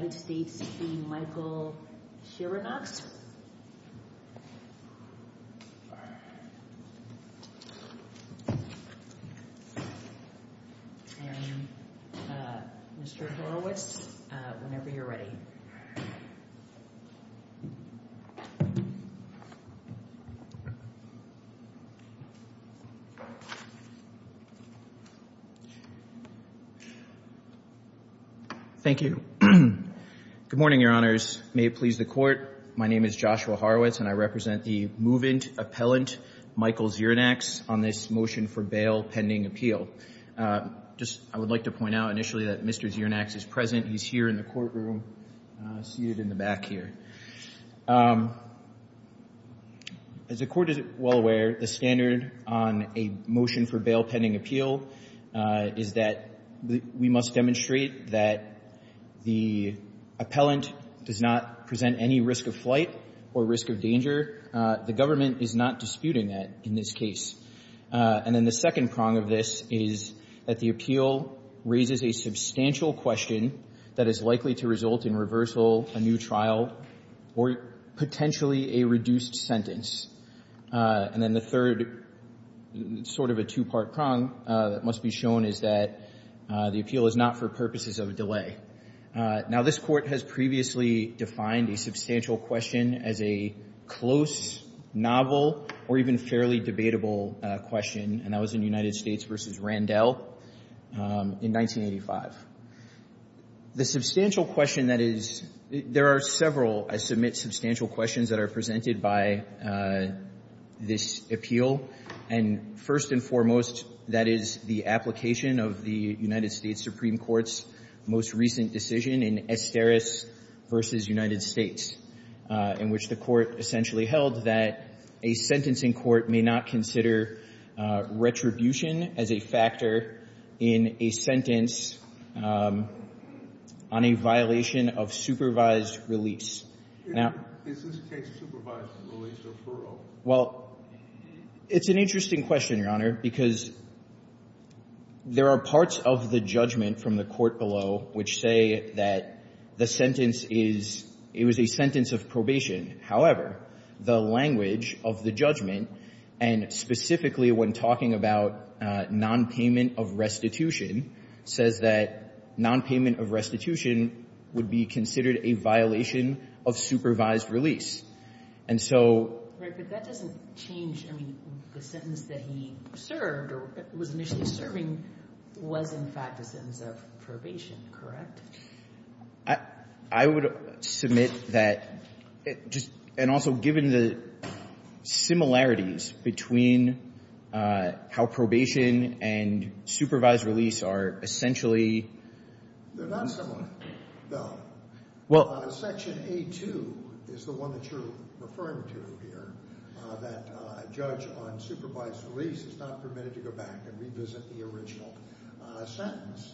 and Mr. Horowitz whenever you're ready. Thank you. Good morning, your honors. May it please the court. My name is Joshua Horowitz and I represent the movant appellant Michael Xirinachs on this motion for bail pending appeal. I would like to point out initially that Mr. Xirinachs is present. He's here in the courtroom, seated in the back here. As the court is well aware, the standard on a motion for bail pending appeal is that we must demonstrate that the appellant does not present any risk of flight or risk of danger. The government is not disputing that in this case. And then the second prong of this is that the appeal raises a substantial question that is likely to result in reversal, a new trial, or potentially a reduced sentence. And then the third sort of a two-part prong that must be shown is that the appeal is not for purposes of delay. Now, this court has previously defined a substantial question as a close, novel, or even fairly debatable question, and that was in United States v. Randell in 1985. The substantial question that is — there are several, I submit, substantial questions that are presented by this appeal. And first and foremost, that is the application of the United States Supreme Court's most recent decision in Estaris v. United States, in which the court essentially held that a sentencing court may not consider retribution as a factor in a sentence on a violation of supervised release. Now — Is this case supervised release or furlough? Well, it's an interesting question, Your Honor, because there are parts of the judgment from the court below which say that the sentence is — it was a sentence of probation. However, the language of the judgment, and specifically when talking about nonpayment of restitution, says that nonpayment of restitution would be considered a violation of supervised release. And so — Right, but that doesn't change — I mean, the sentence that he served or was initially serving was, in fact, a sentence of probation, correct? I would submit that — and also, given the similarities between how probation and supervised release are essentially — They're not similar, no. Well — Section A.2 is the one that you're referring to here, that a judge on supervised release is not permitted to go back and revisit the original sentence.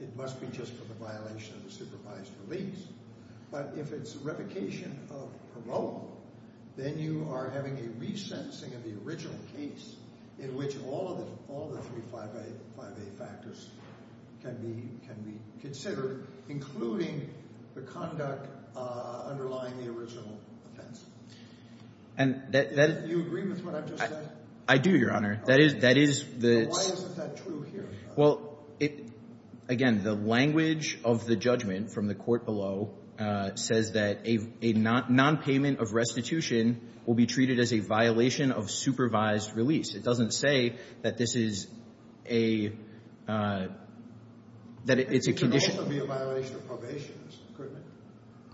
It must be just for the violation of the supervised release. But if it's revocation of furlough, then you are having a resentencing of the original case in which all of the three 5A factors can be considered, including the conduct underlying the original offense. And that — Do you agree with what I've just said? I do, Your Honor. That is — Why isn't that true here? Well, again, the language of the judgment from the court below says that a nonpayment of restitution will be treated as a violation of supervised release. It doesn't say that this is a — that it's a condition — It could also be a violation of probation, couldn't it?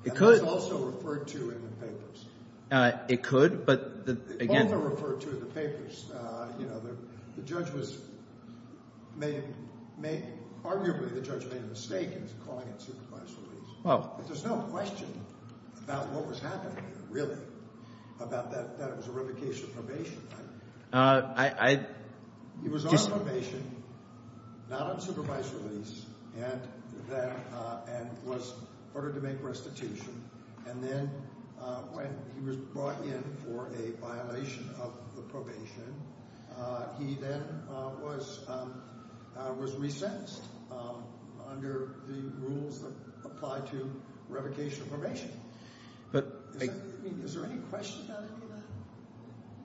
It could. And that's also referred to in the papers. It could, but again — It's also referred to in the papers. You know, the judge was — arguably, the judge made a mistake in calling it supervised release. Well — But there's no question about what was happening, really, about that it was a revocation of probation. I — He was on probation, not on supervised release, and was ordered to make restitution. And then when he was brought in for a violation of the probation, he then was — was resentenced under the rules that apply to revocation of probation. But — Is there any question about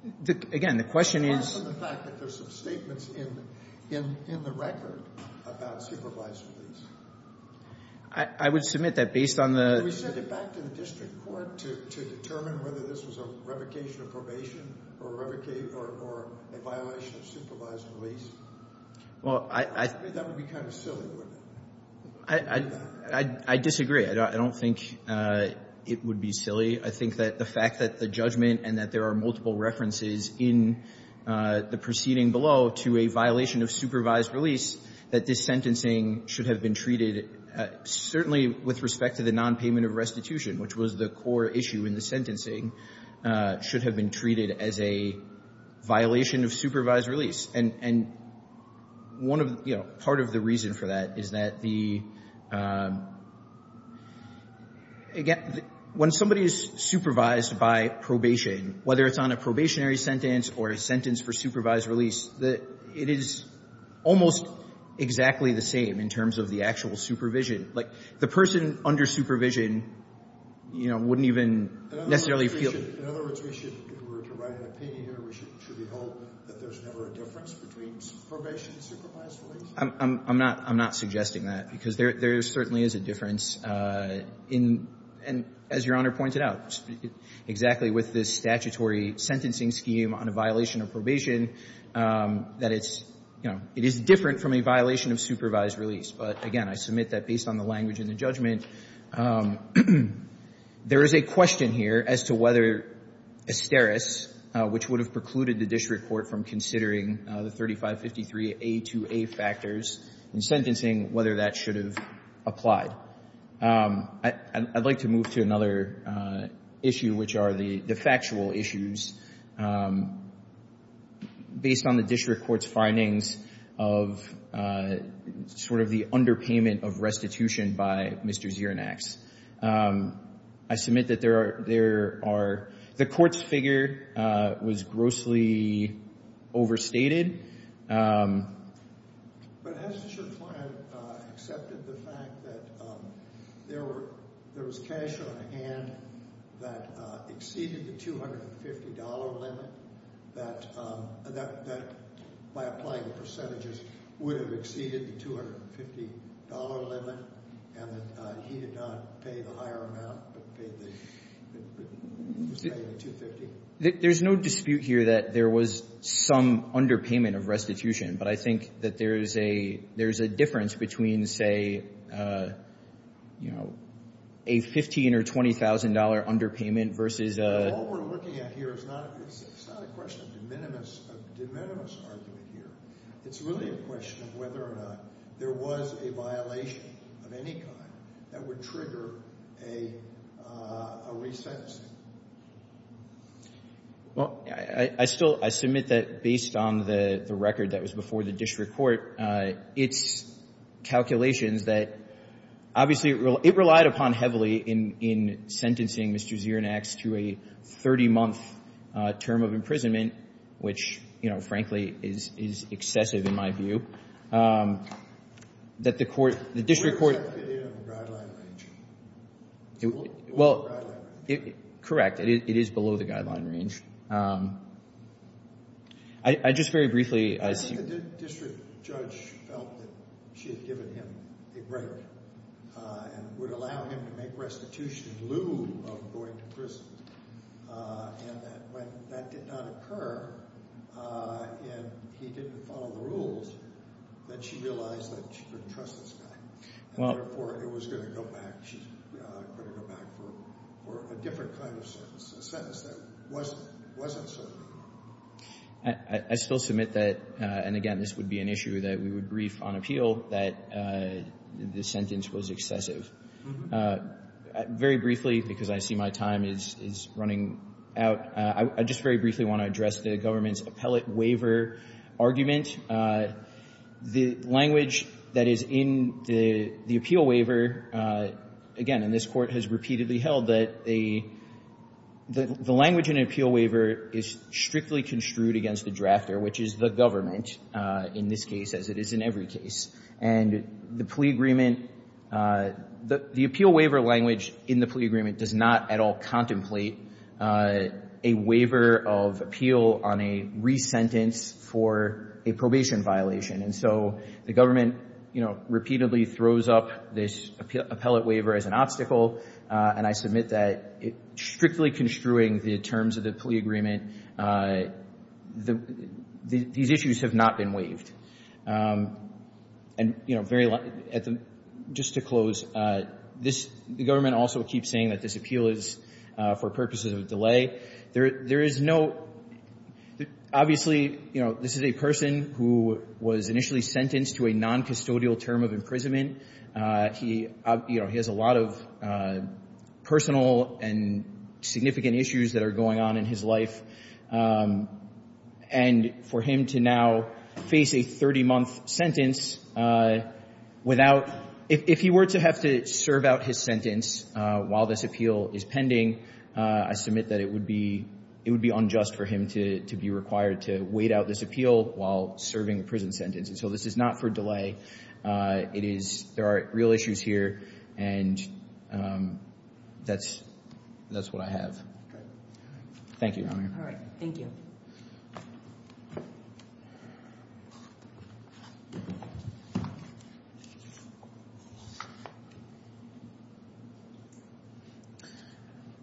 any of that? Again, the question is — Apart from the fact that there's some statements in the record about supervised release. I would submit that based on the — Would you get back to the district court to determine whether this was a revocation of probation or a violation of supervised release? Well, I — That would be kind of silly, wouldn't it? I disagree. I don't think it would be silly. I think that the fact that the judgment and that there are multiple references in the proceeding below to a violation of supervised release, that this sentencing should have been treated — that certainly with respect to the nonpayment of restitution, which was the core issue in the sentencing, should have been treated as a violation of supervised release. And one of — you know, part of the reason for that is that the — again, when somebody is supervised by probation, whether it's on a probationary sentence or a sentence for supervised release, it is almost exactly the same in terms of the actual supervision. Like, the person under supervision, you know, wouldn't even necessarily feel — In other words, we should — if we were to write an opinion here, should we hope that there's never a difference between probation and supervised release? I'm not — I'm not suggesting that, because there certainly is a difference in — and as Your Honor pointed out, exactly with this statutory sentencing scheme on a violation of probation, that it's — you know, it is different from a violation of supervised release. But again, I submit that based on the language in the judgment, there is a question here as to whether asteris, which would have precluded the district court from considering the 3553a to a factors in sentencing, whether that should have applied. I'd like to move to another issue, which are the factual issues. Based on the district court's findings of sort of the underpayment of restitution by Mr. Zirinax, I submit that there are — the court's figure was grossly overstated. But hasn't your client accepted the fact that there were — there was cash on hand that exceeded the $250 limit, that by applying the percentages would have exceeded the $250 limit, and that he did not pay the higher amount, but paid the — There's no dispute here that there was some underpayment of restitution, but I think that there's a difference between, say, you know, a $15,000 or $20,000 underpayment versus a — All we're looking at here is not — it's not a question of de minimis argument here. It's really a question of whether or not there was a violation of any kind that would trigger a re-sentencing. Well, I still — I submit that based on the record that was before the district court, its calculations that — obviously, it relied upon heavily in sentencing Mr. Zirinax to a 30-month term of imprisonment, which, you know, frankly, is excessive in my view. Where does that fit in on the guideline range? Well, correct. It is below the guideline range. I just very briefly — I think the district judge felt that she had given him a break and would allow him to make restitution in lieu of going to prison, and that when that did not occur and he didn't follow the rules, that she realized that she couldn't trust this guy, and therefore it was going to go back — she was going to go back for a different kind of sentence, a sentence that wasn't — wasn't so good. I still submit that — and again, this would be an issue that we would brief on appeal — that this sentence was excessive. Very briefly, because I see my time is running out, I just very briefly want to address the government's appellate waiver argument. The language that is in the appeal waiver, again, and this Court has repeatedly held that the language in an appeal waiver is strictly construed against the drafter, which is the government, in this case, as it is in every case. And the plea agreement — the appeal waiver language in the plea agreement does not at all contemplate a waiver of appeal on a resentence for a probation violation. And so the government, you know, repeatedly throws up this appellate waiver as an obstacle, and I submit that strictly construing the terms of the plea agreement, these issues have not been waived. And, you know, very — just to close, this — the government also keeps saying that this appeal is for purposes of delay. There is no — obviously, you know, this is a person who was initially sentenced to a noncustodial term of imprisonment. He — you know, he has a lot of personal and significant issues that are going on in his life. And for him to now face a 30-month sentence without — if he were to have to serve out his sentence while this appeal is pending, I submit that it would be — it would be unjust for him to be required to wait out this appeal while serving a prison sentence. And so this is not for delay. It is — there are real issues here, and that's — that's what I have. Thank you, Your Honor. All right. Thank you.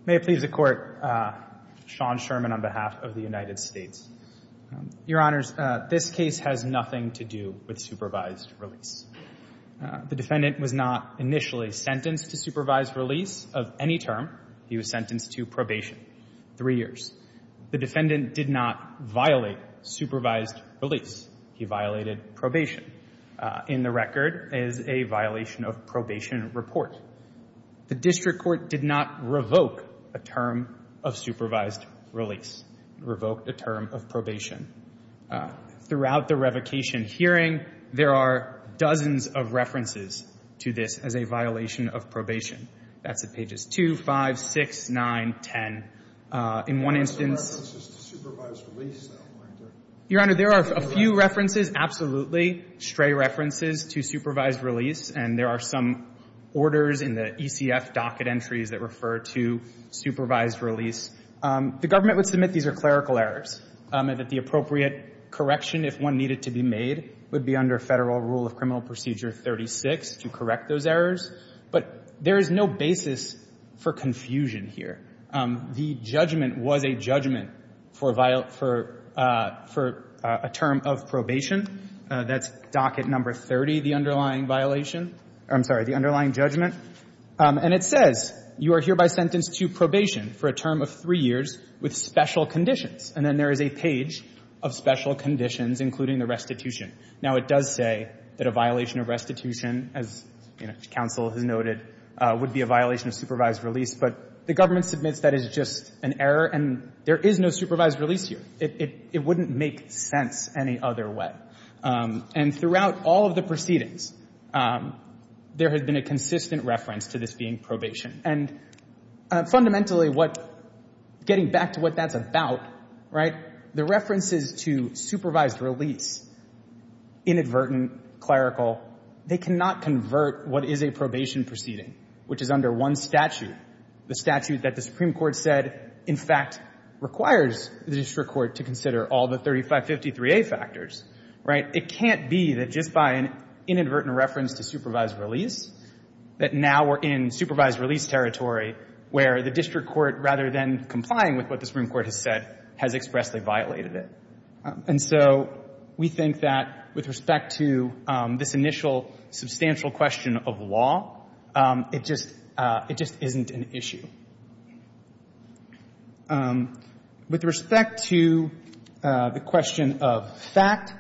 May it please the Court. Sean Sherman on behalf of the United States. Your Honors, this case has nothing to do with supervised release. The defendant was not initially sentenced to supervised release of any term. He was sentenced to probation, three years. The defendant did not violate supervised release. He violated probation. In the record is a violation of probation report. The district court did not revoke a term of supervised release. It revoked a term of probation. Throughout the revocation hearing, there are dozens of references to this as a violation of probation. That's at pages 2, 5, 6, 9, 10. In one instance — There are some references to supervised release, though, aren't there? Your Honor, there are a few references, absolutely, stray references, to supervised release. And there are some orders in the ECF docket entries that refer to supervised release. The government would submit these are clerical errors, and that the appropriate correction, if one needed to be made, would be under Federal Rule of Criminal Procedure 36 to correct those errors. But there is no basis for confusion here. The judgment was a judgment for a term of probation. That's docket number 30, the underlying violation. I'm sorry, the underlying judgment. And it says you are hereby sentenced to probation for a term of three years with special conditions. And then there is a page of special conditions, including the restitution. Now, it does say that a violation of restitution, as, you know, counsel has noted, would be a violation of supervised release. But the government submits that as just an error, and there is no supervised release here. It wouldn't make sense any other way. And throughout all of the proceedings, there has been a consistent reference to this being probation. And fundamentally, getting back to what that's about, right, the references to supervised release, inadvertent, clerical, they cannot convert what is a probation proceeding, which is under one statute, the statute that the Supreme Court said, in fact, requires the district court to consider all the 3553A factors, right? It can't be that just by an inadvertent reference to supervised release, that now we're in supervised release territory where the district court, rather than complying with what the Supreme Court has said, has expressly violated it. And so we think that with respect to this initial substantial question of law, it just isn't an issue. With respect to the question of fact,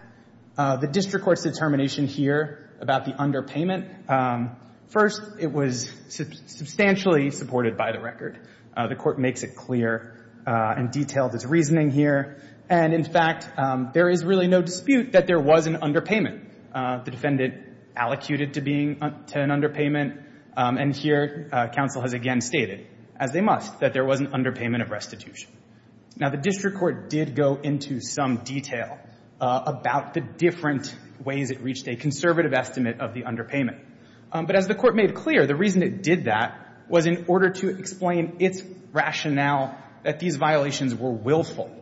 the district court's determination here about the underpayment, first, it was substantially supported by the record. The court makes it clear and detailed its reasoning here. And in fact, there is really no dispute that there was an underpayment. The defendant allocuted to being to an underpayment. And here, counsel has again stated, as they must, that there was an underpayment of restitution. Now, the district court did go into some detail about the different ways it reached a conservative estimate of the underpayment. But as the court made clear, the reason it did that was in order to explain its rationale that these violations were willful.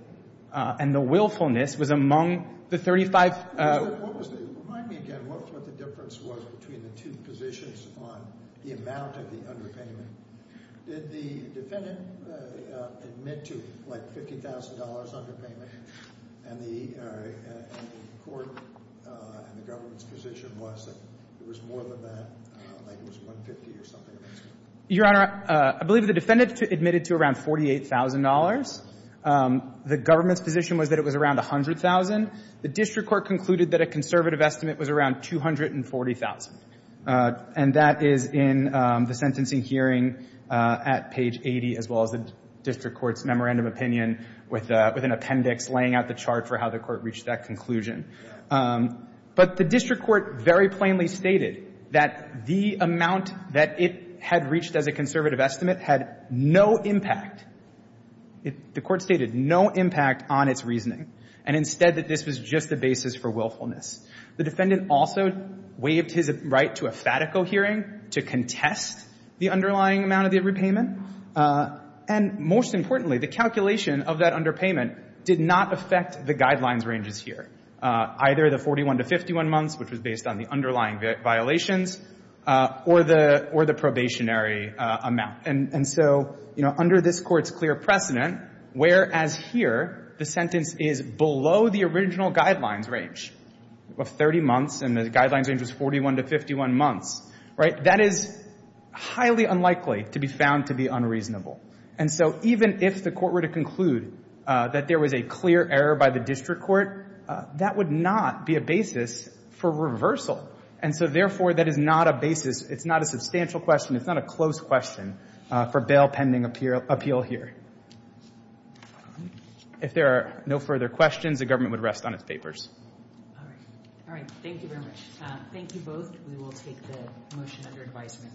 And the willfulness was among the 35. What was the – remind me again. What was the difference was between the two positions on the amount of the underpayment? Did the defendant admit to, like, $50,000 underpayment? And the court and the government's position was that there was more than that, like it was $150,000 or something. Your Honor, I believe the defendant admitted to around $48,000. The government's position was that it was around $100,000. The district court concluded that a conservative estimate was around $240,000. And that is in the sentencing hearing at page 80, as well as the district court's memorandum opinion with an appendix laying out the chart for how the court reached that conclusion. But the district court very plainly stated that the amount that it had reached as a conservative estimate had no impact. The court stated no impact on its reasoning, and instead that this was just the basis for willfulness. The defendant also waived his right to a fatico hearing to contest the underlying amount of the repayment. And most importantly, the calculation of that underpayment did not affect the guidelines ranges here, either the 41 to 51 months, which was based on the underlying violations, or the probationary amount. And so, you know, under this court's clear precedent, whereas here the sentence is below the original guidelines range of 30 months and the guidelines range was 41 to 51 months, right, that is highly unlikely to be found to be unreasonable. And so even if the court were to conclude that there was a clear error by the district court, that would not be a basis for reversal. And so, therefore, that is not a basis. It's not a substantial question. It's not a close question for bail pending appeal here. If there are no further questions, the government would rest on its papers. All right. All right. Thank you very much. Thank you both. We will take the motion under advisement.